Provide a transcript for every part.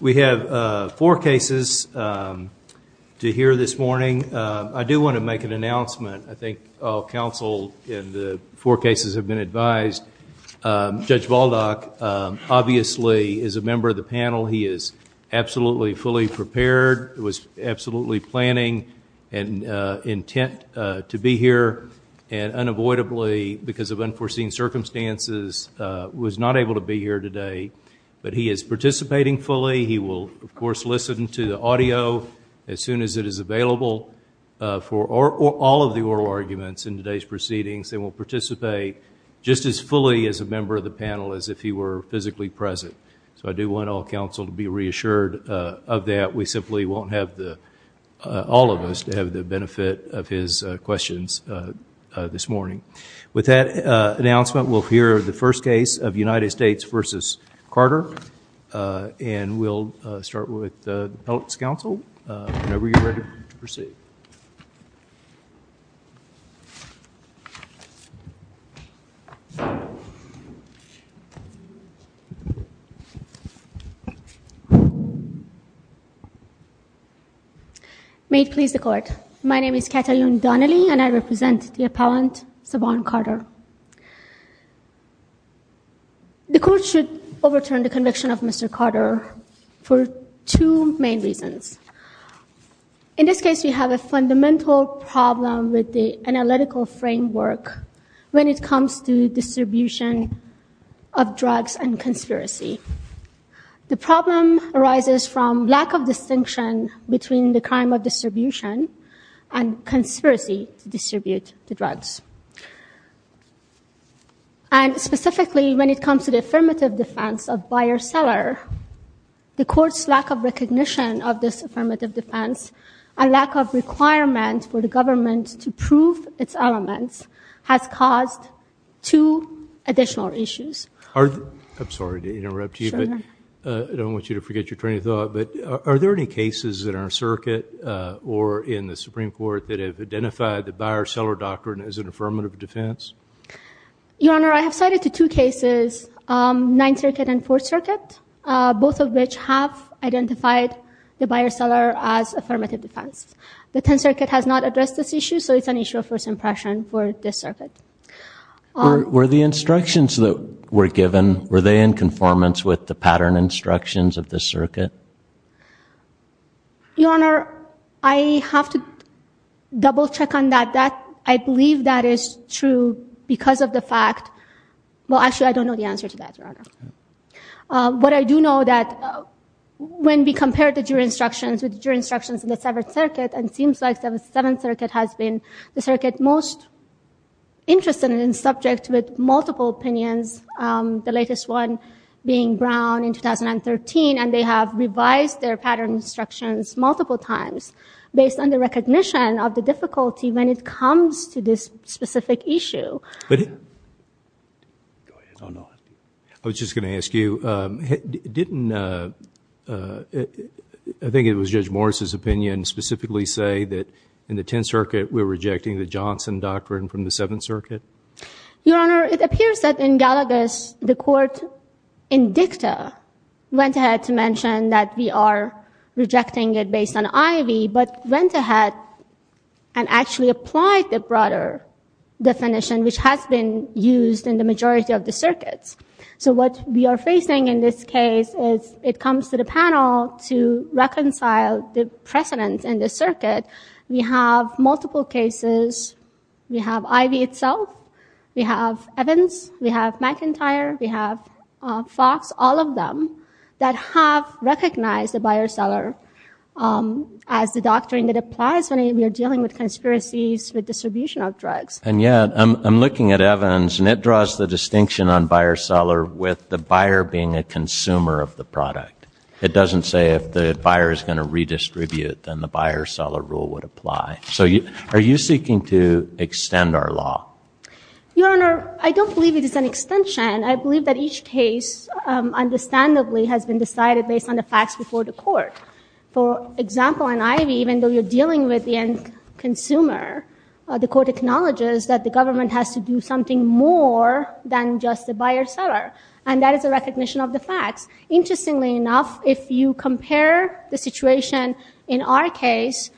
We have four cases to hear this morning. I do want to make an announcement. I think all counsel in the four cases have been advised. Judge Baldock obviously is a member of the panel. He is absolutely fully prepared, was absolutely planning and intent to be here and unavoidably, because of unforeseen circumstances, was not able to be here today, but he is participating fully. He will, of course, listen to the audio as soon as it is available for all of the oral arguments in today's proceedings. They will participate just as fully as a member of the panel as if he were physically present. So I do want all counsel to be reassured of that. We simply won't have the, all of us, to have the benefit of his questions this morning. With that announcement, we'll hear the first case of United States v. Carter, and we'll start with the appellant's counsel. Whenever you're ready to proceed. May it please the Court. My name is Katayoun Donnelly and I represent the appellant Saban Carter. The Court should overturn the conviction of Mr. Carter for two main reasons. In this case, we have a fundamental problem with the analytical framework when it comes to distribution of drugs and conspiracy. The problem arises from lack of distinction between the crime of distribution and conspiracy to distribute the drugs. And specifically, when it comes to the affirmative defense of buyer-seller, the Court's lack of recognition of this affirmative defense and lack of requirement for the government to prove its elements has caused two additional issues. I'm sorry to interrupt you, but I don't want you to forget your train of thought. But are there any cases in our circuit or in the Supreme Court that have identified the buyer-seller doctrine as an affirmative defense? Your Honor, I have cited two cases, Ninth Circuit and Fourth Circuit, both of which have identified the buyer-seller as affirmative defense. The Tenth Circuit has not addressed this issue, so it's an issue of first impression for this circuit. Were the instructions that were given, were they in conformance with the pattern instructions of this circuit? Your Honor, I have to double-check on that. I believe that is true because of the fact— well, actually, I don't know the answer to that, Your Honor. But I do know that when we compared the jury instructions with the jury instructions in the Seventh Circuit, it seems like the Seventh Circuit has been the circuit most interested in and subject with multiple opinions, the latest one being Brown in 2013, and they have revised their pattern instructions multiple times based on the recognition of the difficulty when it comes to this specific issue. Go ahead. I was just going to ask you, didn't, I think it was Judge Morris' opinion, specifically say that in the Tenth Circuit we're rejecting the Johnson doctrine from the Seventh Circuit? Your Honor, it appears that in Gallagher's, the court in dicta went ahead to mention that we are rejecting it based on IV, but went ahead and actually applied the broader definition, which has been used in the majority of the circuits. So what we are facing in this case is it comes to the panel to reconcile the precedents in the circuit. We have multiple cases. We have IV itself. We have Evans. We have McIntyre. We have Fox. All of them that have recognized the buyer-seller as the doctrine that applies when we are dealing with conspiracies with distribution of drugs. And yet, I'm looking at Evans, and it draws the distinction on buyer-seller with the buyer being a consumer of the product. It doesn't say if the buyer is going to redistribute, then the buyer-seller rule would apply. So are you seeking to extend our law? Your Honor, I don't believe it is an extension. I believe that each case, understandably, has been decided based on the facts before the court. For example, in IV, even though you're dealing with the end consumer, the court acknowledges that the government has to do something more than just the buyer-seller. And that is a recognition of the facts. Interestingly enough, if you compare the situation in our case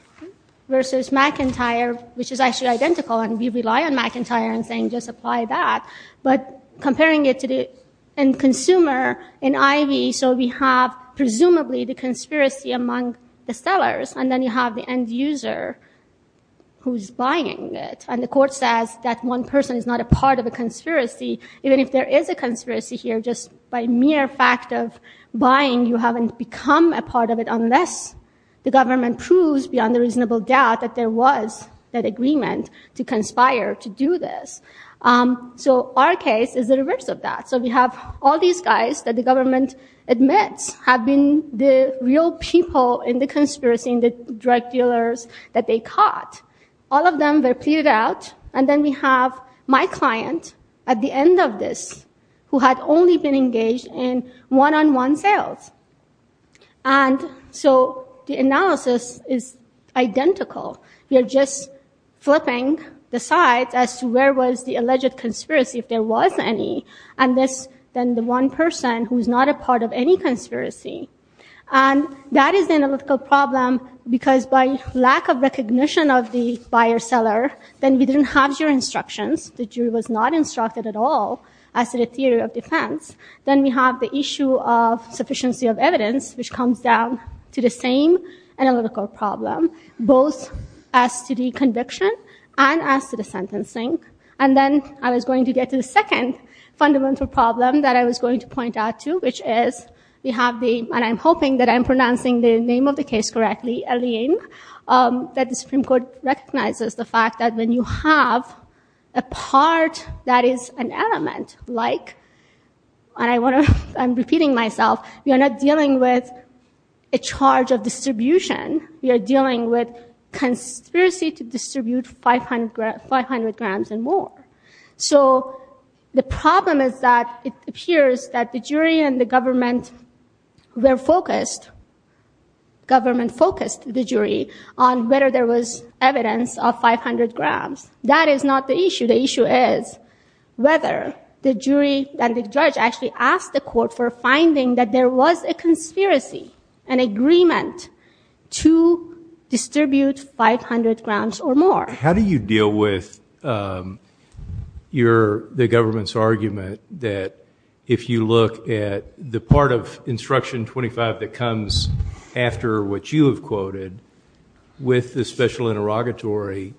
versus McIntyre, which is actually identical, and we rely on McIntyre in saying just apply that, but comparing it to the end consumer in IV, so we have presumably the conspiracy among the sellers, and then you have the end user who's buying it. And the court says that one person is not a part of a conspiracy, even if there is a conspiracy here, just by mere fact of buying, you haven't become a part of it unless the government proves beyond a reasonable doubt that there was that agreement to conspire to do this. So our case is the reverse of that. So we have all these guys that the government admits have been the real people in the conspiracy, in the drug dealers that they caught. All of them were pleaded out, and then we have my client at the end of this who had only been engaged in one-on-one sales. And so the analysis is identical. We are just flipping the sides as to where was the alleged conspiracy, if there was any, and this then the one person who's not a part of any conspiracy. And that is the analytical problem because by lack of recognition of the buyer-seller, then we didn't have your instructions. The jury was not instructed at all as to the theory of defense. Then we have the issue of sufficiency of evidence, which comes down to the same analytical problem. Both as to the conviction and as to the sentencing. And then I was going to get to the second fundamental problem that I was going to point out to, which is we have the, and I'm hoping that I'm pronouncing the name of the case correctly, Elin, that the Supreme Court recognizes the fact that when you have a part that is an element, like, and I want to, I'm repeating myself, we are not dealing with a charge of distribution. We are dealing with conspiracy to distribute 500 grams and more. So the problem is that it appears that the jury and the government were focused, government focused the jury on whether there was evidence of 500 grams. That is not the issue. The issue is whether the jury and the judge actually asked the court for finding that there was a conspiracy, an agreement to distribute 500 grams or more. How do you deal with your, the government's argument that if you look at the part of instruction 25 that comes after what you have quoted, with the special interrogatory,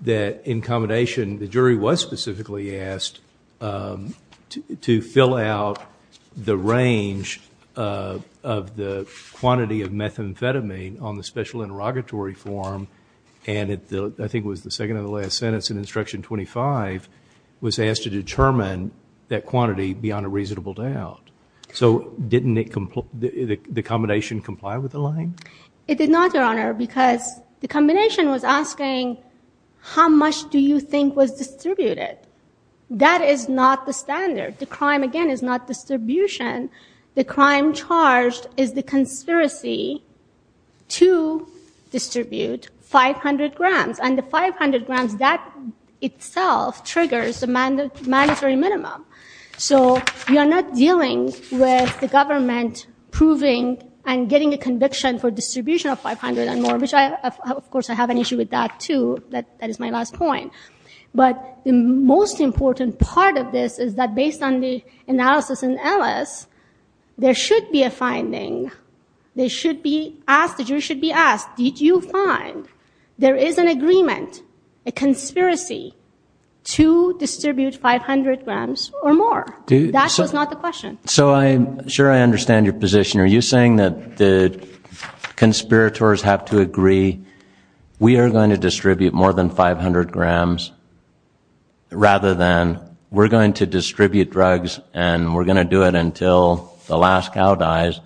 that in combination, the jury was specifically asked to fill out the range of the quantity of methamphetamine on the special interrogatory form, and I think it was the second of the last sentence in instruction 25, was asked to determine that quantity beyond a reasonable doubt. So didn't it, the combination comply with Elin? It did not, Your Honor, because the combination was asking how much do you think was distributed? That is not the standard. The crime, again, is not distribution. The crime charged is the conspiracy to distribute 500 grams, and the 500 grams that itself triggers the mandatory minimum. So you are not dealing with the government proving and getting a conviction for distribution of 500 and more, which I, of course, I have an issue with that, too. That is my last point. But the most important part of this is that based on the analysis in Ellis, there should be a finding. They should be asked, the jury should be asked, did you find there is an agreement, a conspiracy to distribute 500 grams or more? That was not the question. So I'm sure I understand your position. Are you saying that the conspirators have to agree we are going to distribute more than 500 grams rather than we're going to distribute drugs and we're going to do it until the last cow dies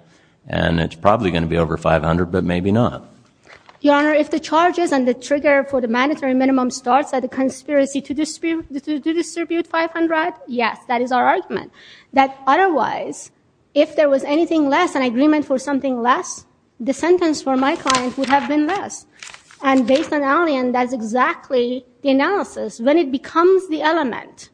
and it's probably going to be over 500 but maybe not? Your Honor, if the charges and the trigger for the mandatory minimum starts at the conspiracy to distribute 500, yes, that is our argument. That otherwise, if there was anything less, an agreement for something less, the sentence for my client would have been less. And based on Allian, that's exactly the analysis. When it becomes the element,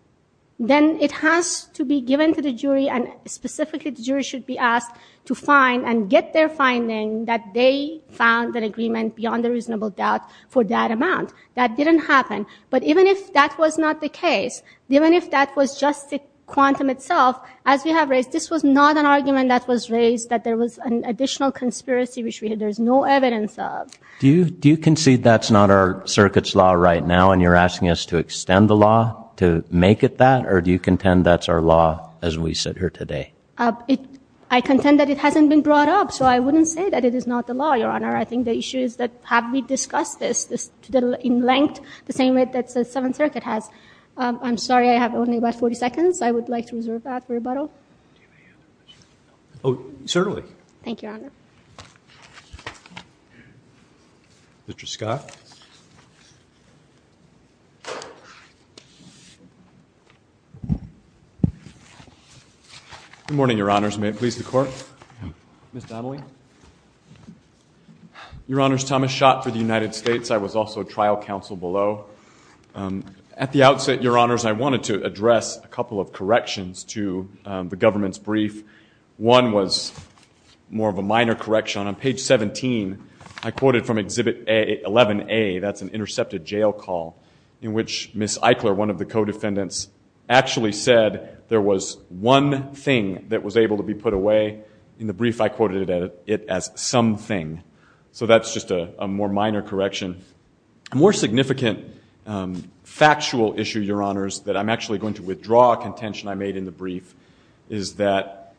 then it has to be given to the jury, and specifically the jury should be asked to find and get their finding that they found an agreement beyond a reasonable doubt for that amount. That didn't happen. But even if that was not the case, even if that was just the quantum itself, as we have raised, this was not an argument that was raised that there was an additional conspiracy which there is no evidence of. Do you concede that's not our circuit's law right now and you're asking us to extend the law to make it that? Or do you contend that's our law as we sit here today? I contend that it hasn't been brought up, so I wouldn't say that it is not the law, Your Honor. I think the issue is that have we discussed this in length the same way that the Seventh Circuit has? I'm sorry, I have only about 40 seconds. I would like to reserve that for rebuttal. Oh, certainly. Thank you, Your Honor. Mr. Scott. Good morning, Your Honors. May it please the Court? Ms. Donnelly. Your Honors, Thomas Schott for the United States. I was also trial counsel below. At the outset, Your Honors, I wanted to address a couple of corrections to the government's brief. One was more of a minor correction. On page 17, I quoted from Exhibit 11A, that's an intercepted jail call, in which Ms. Eichler, one of the co-defendants, actually said there was one thing that was able to be put away. In the brief, I quoted it as something. So that's just a more minor correction. A more significant factual issue, Your Honors, that I'm actually going to withdraw a contention I made in the brief is that,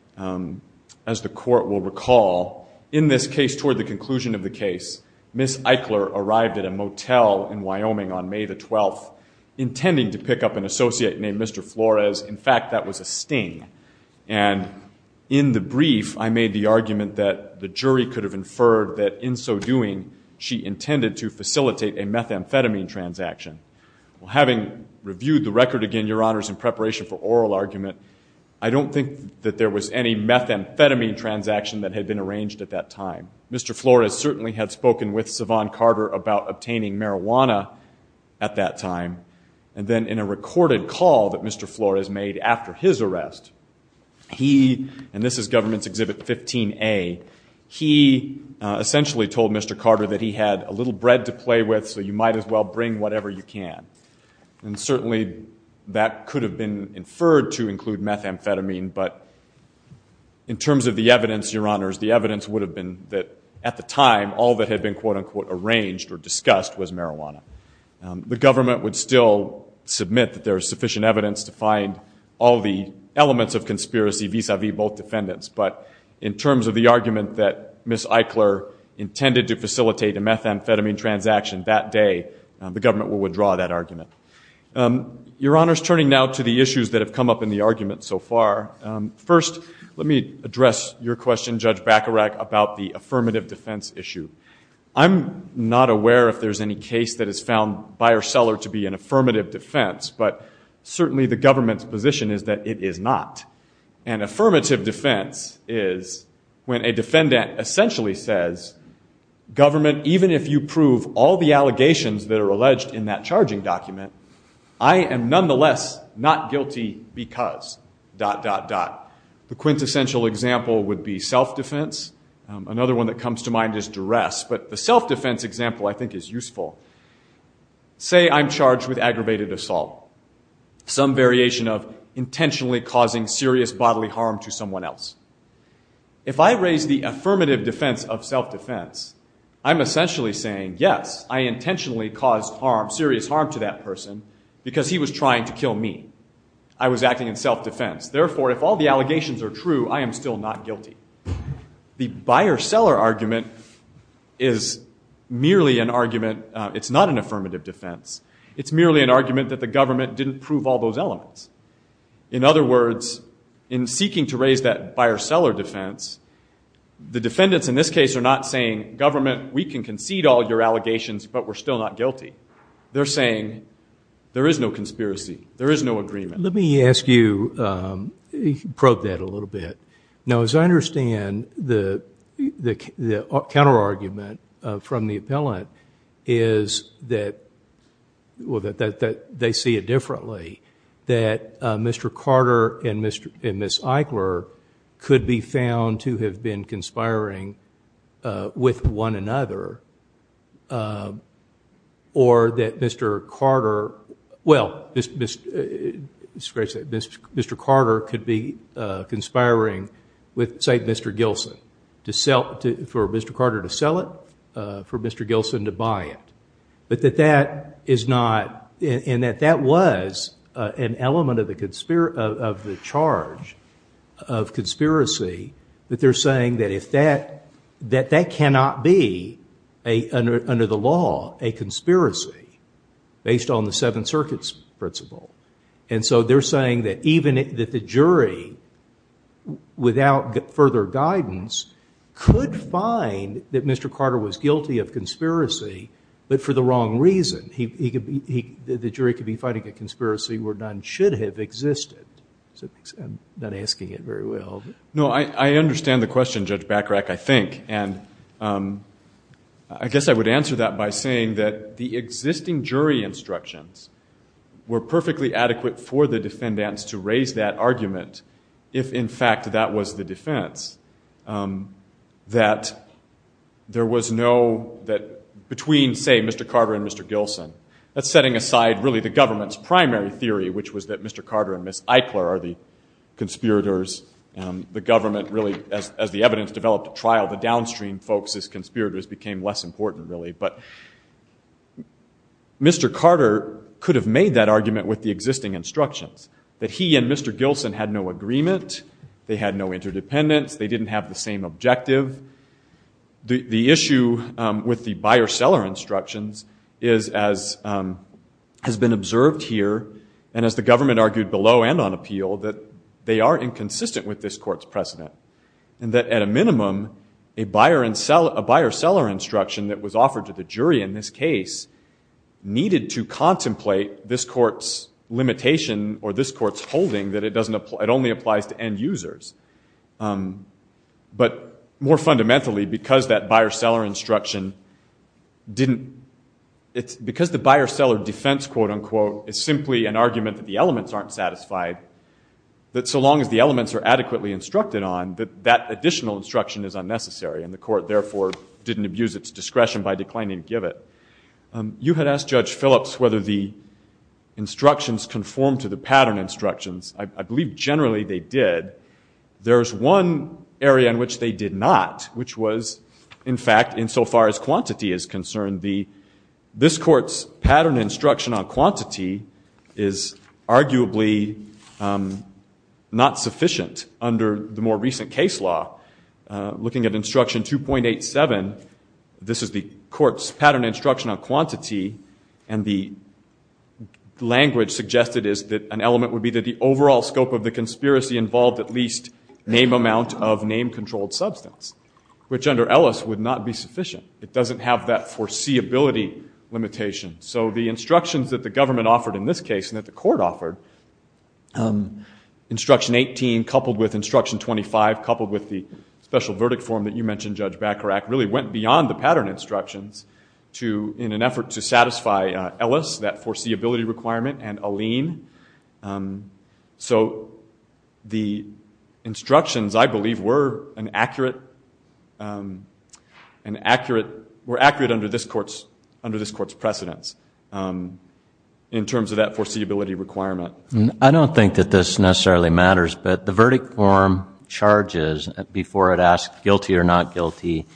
as the Court will recall, in this case toward the conclusion of the case, Ms. Eichler arrived at a motel in Wyoming on May the 12th, intending to pick up an associate named Mr. Flores. In fact, that was a sting. And in the brief, I made the argument that the jury could have inferred that, in so doing, she intended to facilitate a methamphetamine transaction. Well, having reviewed the record again, Your Honors, in preparation for oral argument, I don't think that there was any methamphetamine transaction that had been arranged at that time. Mr. Flores certainly had spoken with Siobhan Carter about obtaining marijuana at that time. And then in a recorded call that Mr. Flores made after his arrest, he, and this is Government's Exhibit 15A, he essentially told Mr. Carter that he had a little bread to play with, so you might as well bring whatever you can. And certainly that could have been inferred to include methamphetamine, but in terms of the evidence, Your Honors, the evidence would have been that, at the time, all that had been, quote, unquote, arranged or discussed was marijuana. The Government would still submit that there is sufficient evidence to find all the elements of conspiracy vis-à-vis both defendants. But in terms of the argument that Ms. Eichler intended to facilitate a methamphetamine transaction that day, the Government would withdraw that argument. Your Honors, turning now to the issues that have come up in the argument so far, first let me address your question, Judge Bacharach, about the affirmative defense issue. I'm not aware if there's any case that has found buyer-seller to be an affirmative defense, but certainly the Government's position is that it is not. An affirmative defense is when a defendant essentially says, Government, even if you prove all the allegations that are alleged in that charging document, I am nonetheless not guilty because... The quintessential example would be self-defense. Another one that comes to mind is duress, but the self-defense example I think is useful. Say I'm charged with aggravated assault. Some variation of intentionally causing serious bodily harm to someone else. If I raise the affirmative defense of self-defense, I'm essentially saying, Yes, I intentionally caused serious harm to that person because he was trying to kill me. I was acting in self-defense. Therefore, if all the allegations are true, I am still not guilty. The buyer-seller argument is merely an argument. It's not an affirmative defense. It's merely an argument that the Government didn't prove all those elements. In other words, in seeking to raise that buyer-seller defense, the defendants in this case are not saying, Government, we can concede all your allegations, but we're still not guilty. They're saying there is no conspiracy. There is no agreement. Let me ask you, probe that a little bit. Now, as I understand, the counter-argument from the appellant is that they see it differently, that Mr. Carter and Ms. Eichler could be found to have been conspiring with one another, or that Mr. Carter could be conspiring with, say, Mr. Gilson, for Mr. Carter to sell it, for Mr. Gilson to buy it. But that that is not, and that that was an element of the charge of conspiracy, that they're saying that that cannot be, under the law, a conspiracy, based on the Seventh Circuit's principle. And so they're saying that even the jury, without further guidance, could find that Mr. Carter was guilty of conspiracy, but for the wrong reason. The jury could be finding a conspiracy where none should have existed. I'm not asking it very well. No, I understand the question, Judge Bachrach, I think, and I guess I would answer that by saying that the existing jury instructions were perfectly adequate for the defendants to raise that argument if, in fact, that was the defense, that there was no, that between, say, Mr. Carter and Mr. Gilson, that's setting aside, really, the government's primary theory, which was that Mr. Carter and Miss Eichler are the conspirators. The government really, as the evidence developed at trial, the downstream folks as conspirators became less important, really. But Mr. Carter could have made that argument with the existing instructions, that he and Mr. Gilson had no agreement, they had no interdependence, they didn't have the same objective. The issue with the buyer-seller instructions has been observed here, and as the government argued below and on appeal, that they are inconsistent with this court's precedent, and that at a minimum a buyer-seller instruction that was offered to the jury in this case needed to contemplate this court's limitation or this court's holding that it only applies to end users. But more fundamentally, because that buyer-seller instruction didn't, because the buyer-seller defense, quote-unquote, is simply an argument that the elements aren't satisfied, that so long as the elements are adequately instructed on, that that additional instruction is unnecessary, and the court, therefore, didn't abuse its discretion by declining to give it. You had asked Judge Phillips whether the instructions conformed to the pattern instructions. I believe generally they did. There's one area in which they did not, which was, in fact, insofar as quantity is concerned, this court's pattern instruction on quantity is arguably not sufficient under the more recent case law. Looking at instruction 2.87, this is the court's pattern instruction on quantity, and the language suggested is that an element would be that the overall scope of the conspiracy involved at least name amount of name-controlled substance, which under Ellis would not be sufficient. It doesn't have that foreseeability limitation. So the instructions that the government offered in this case and that the court offered, instruction 18 coupled with instruction 25, coupled with the special verdict form that you mentioned, Judge Bacharach, really went beyond the pattern instructions in an effort to satisfy Ellis, that foreseeability requirement, and Alene. So the instructions, I believe, were accurate under this court's precedence in terms of that foreseeability requirement. I don't think that this necessarily matters, but the verdict form charges, before it asks guilty or not guilty,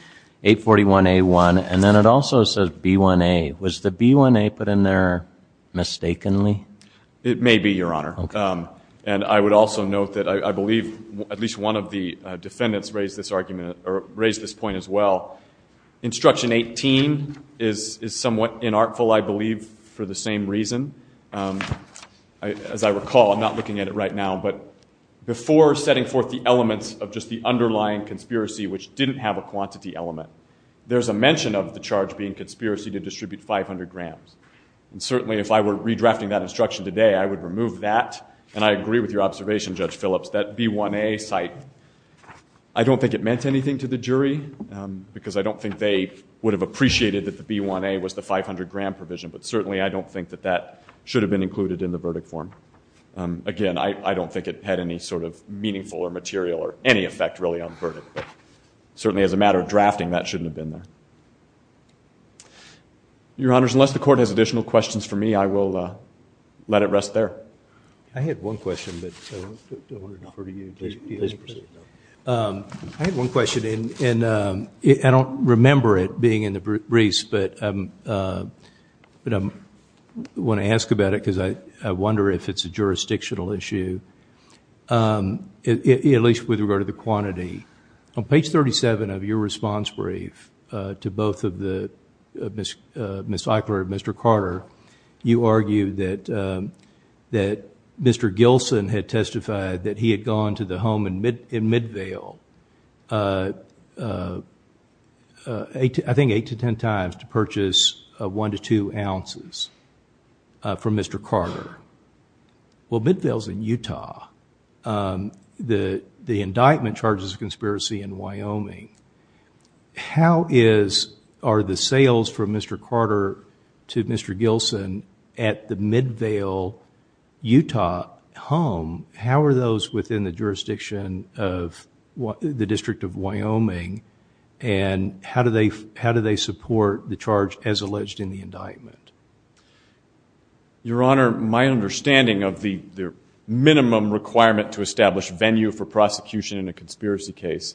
841A1, and then it also says B1A. Was the B1A put in there mistakenly? It may be, Your Honor. Okay. And I would also note that I believe at least one of the defendants raised this argument or raised this point as well. Instruction 18 is somewhat inartful, I believe, for the same reason. As I recall, I'm not looking at it right now, but before setting forth the elements of just the underlying conspiracy, which didn't have a quantity element, there's a mention of the charge being conspiracy to distribute 500 grams. And certainly if I were redrafting that instruction today, I would remove that, and I agree with your observation, Judge Phillips, that B1A cite, I don't think it meant anything to the jury, because I don't think they would have appreciated that the B1A was the 500-gram provision, but certainly I don't think that that should have been included in the verdict form. Again, I don't think it had any sort of meaningful or material or any effect really on the verdict, but certainly as a matter of drafting, that shouldn't have been there. Your Honors, unless the Court has additional questions for me, I will let it rest there. I had one question, but I don't want to defer to you. Please proceed. I had one question, and I don't remember it being in the briefs, but I want to ask about it because I wonder if it's a jurisdictional issue, at least with regard to the quantity. On page 37 of your response brief to both of Ms. Eichler and Mr. Carter, you argued that Mr. Gilson had testified that he had gone to the home in Midvale I think eight to ten times to purchase one to two ounces from Mr. Carter. Well, Midvale is in Utah. The indictment charges a conspiracy in Wyoming. How are the sales from Mr. Carter to Mr. Gilson at the Midvale, Utah home, how are those within the jurisdiction of the District of Wyoming, and how do they support the charge as alleged in the indictment? Your Honor, my understanding of the minimum requirement to establish venue for prosecution in a conspiracy case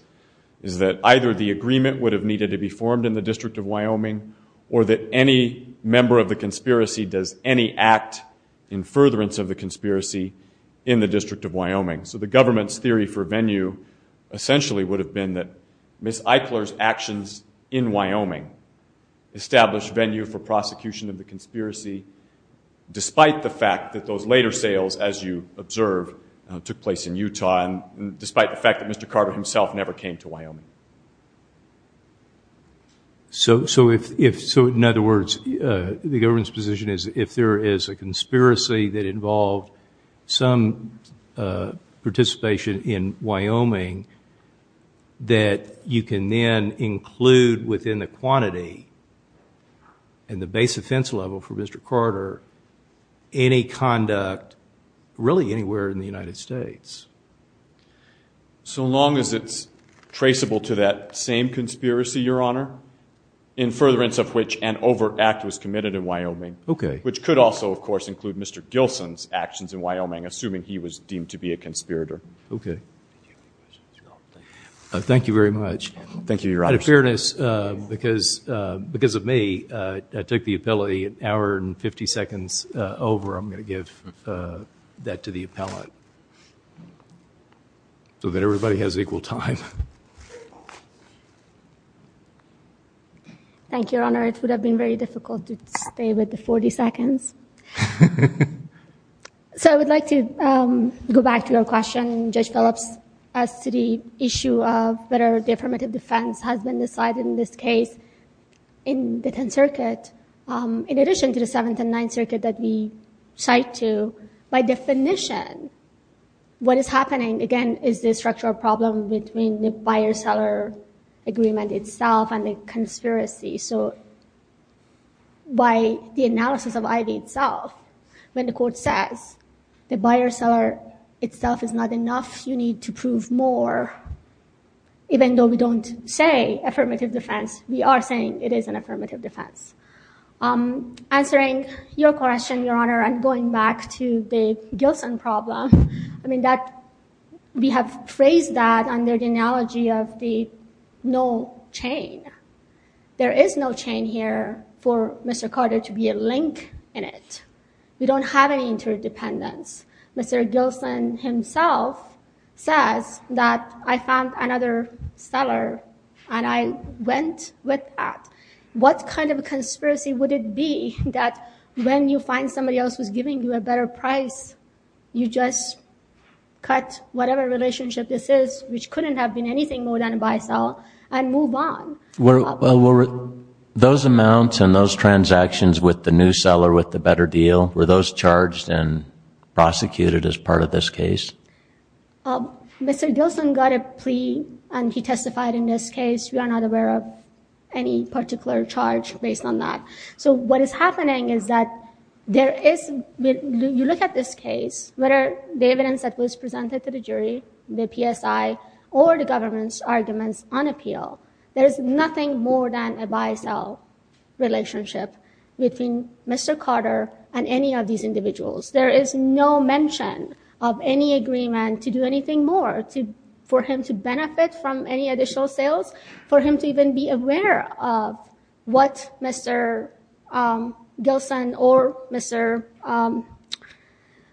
is that either the agreement would have needed to be formed in the District of Wyoming or that any member of the conspiracy does any act in furtherance of the conspiracy in the District of Wyoming. So the government's theory for venue essentially would have been that Ms. Eichler's actions in Wyoming established venue for prosecution of the conspiracy despite the fact that those later sales, as you observe, took place in Utah and despite the fact that Mr. Carter himself never came to Wyoming. So in other words, the government's position is if there is a conspiracy that involved some participation in Wyoming that you can then include within the quantity and the base offense level for Mr. Carter in a conduct really anywhere in the United States. So long as it's traceable to that same conspiracy, Your Honor, in furtherance of which an overact was committed in Wyoming, which could also, of course, include Mr. Gilson's actions in Wyoming, assuming he was deemed to be a conspirator. Okay. Thank you very much. Thank you, Your Honor. Out of fairness, because of me, I took the appellate an hour and 50 seconds over. I'm going to give that to the appellate so that everybody has equal time. Thank you, Your Honor. It would have been very difficult to stay with the 40 seconds. So I would like to go back to your question. Judge Phillips asked the issue of whether the affirmative defense has been decided in this case in the 10th Circuit. In addition to the 7th and 9th Circuit that we cite to, by definition, what is happening, again, is the structural problem between the buyer-seller agreement itself and the conspiracy. So by the analysis of ID itself, when the court says the buyer-seller itself is not enough, you need to prove more, even though we don't say affirmative defense, we are saying it is an affirmative defense. Answering your question, Your Honor, and going back to the Gilson problem, we have phrased that under the analogy of the no chain. There is no chain here for Mr. Carter to be a link in it. We don't have any interdependence. Mr. Gilson himself says that I found another seller and I went with that. What kind of conspiracy would it be that when you find somebody else who is giving you a better price, you just cut whatever relationship this is, which couldn't have been anything more than a buy-sell, and move on? Were those amounts and those transactions with the new seller with the better deal, were those charged and prosecuted as part of this case? Mr. Gilson got a plea and he testified in this case. We are not aware of any particular charge based on that. So what is happening is that there is, when you look at this case, whether the evidence that was presented to the jury, the PSI, or the government's arguments on appeal, there is nothing more than a buy-sell relationship between Mr. Carter and any of these individuals. There is no mention of any agreement to do anything more for him to benefit from any additional sales, for him to even be aware of what Mr. Gilson or Mr.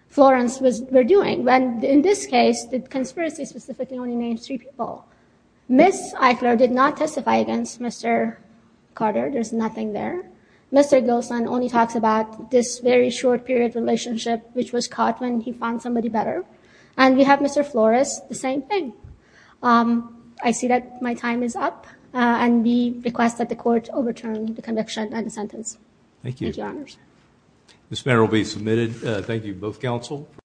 Florence were doing. In this case, the conspiracy specifically only names three people. Ms. Eichler did not testify against Mr. Carter. There's nothing there. Mr. Gilson only talks about this very short-period relationship, which was caught when he found somebody better. And we have Mr. Florence, the same thing. I see that my time is up, and we request that the Court overturn the conviction and the sentence. Thank you. Thank you, Your Honors. This matter will be submitted. Thank you, both counsel.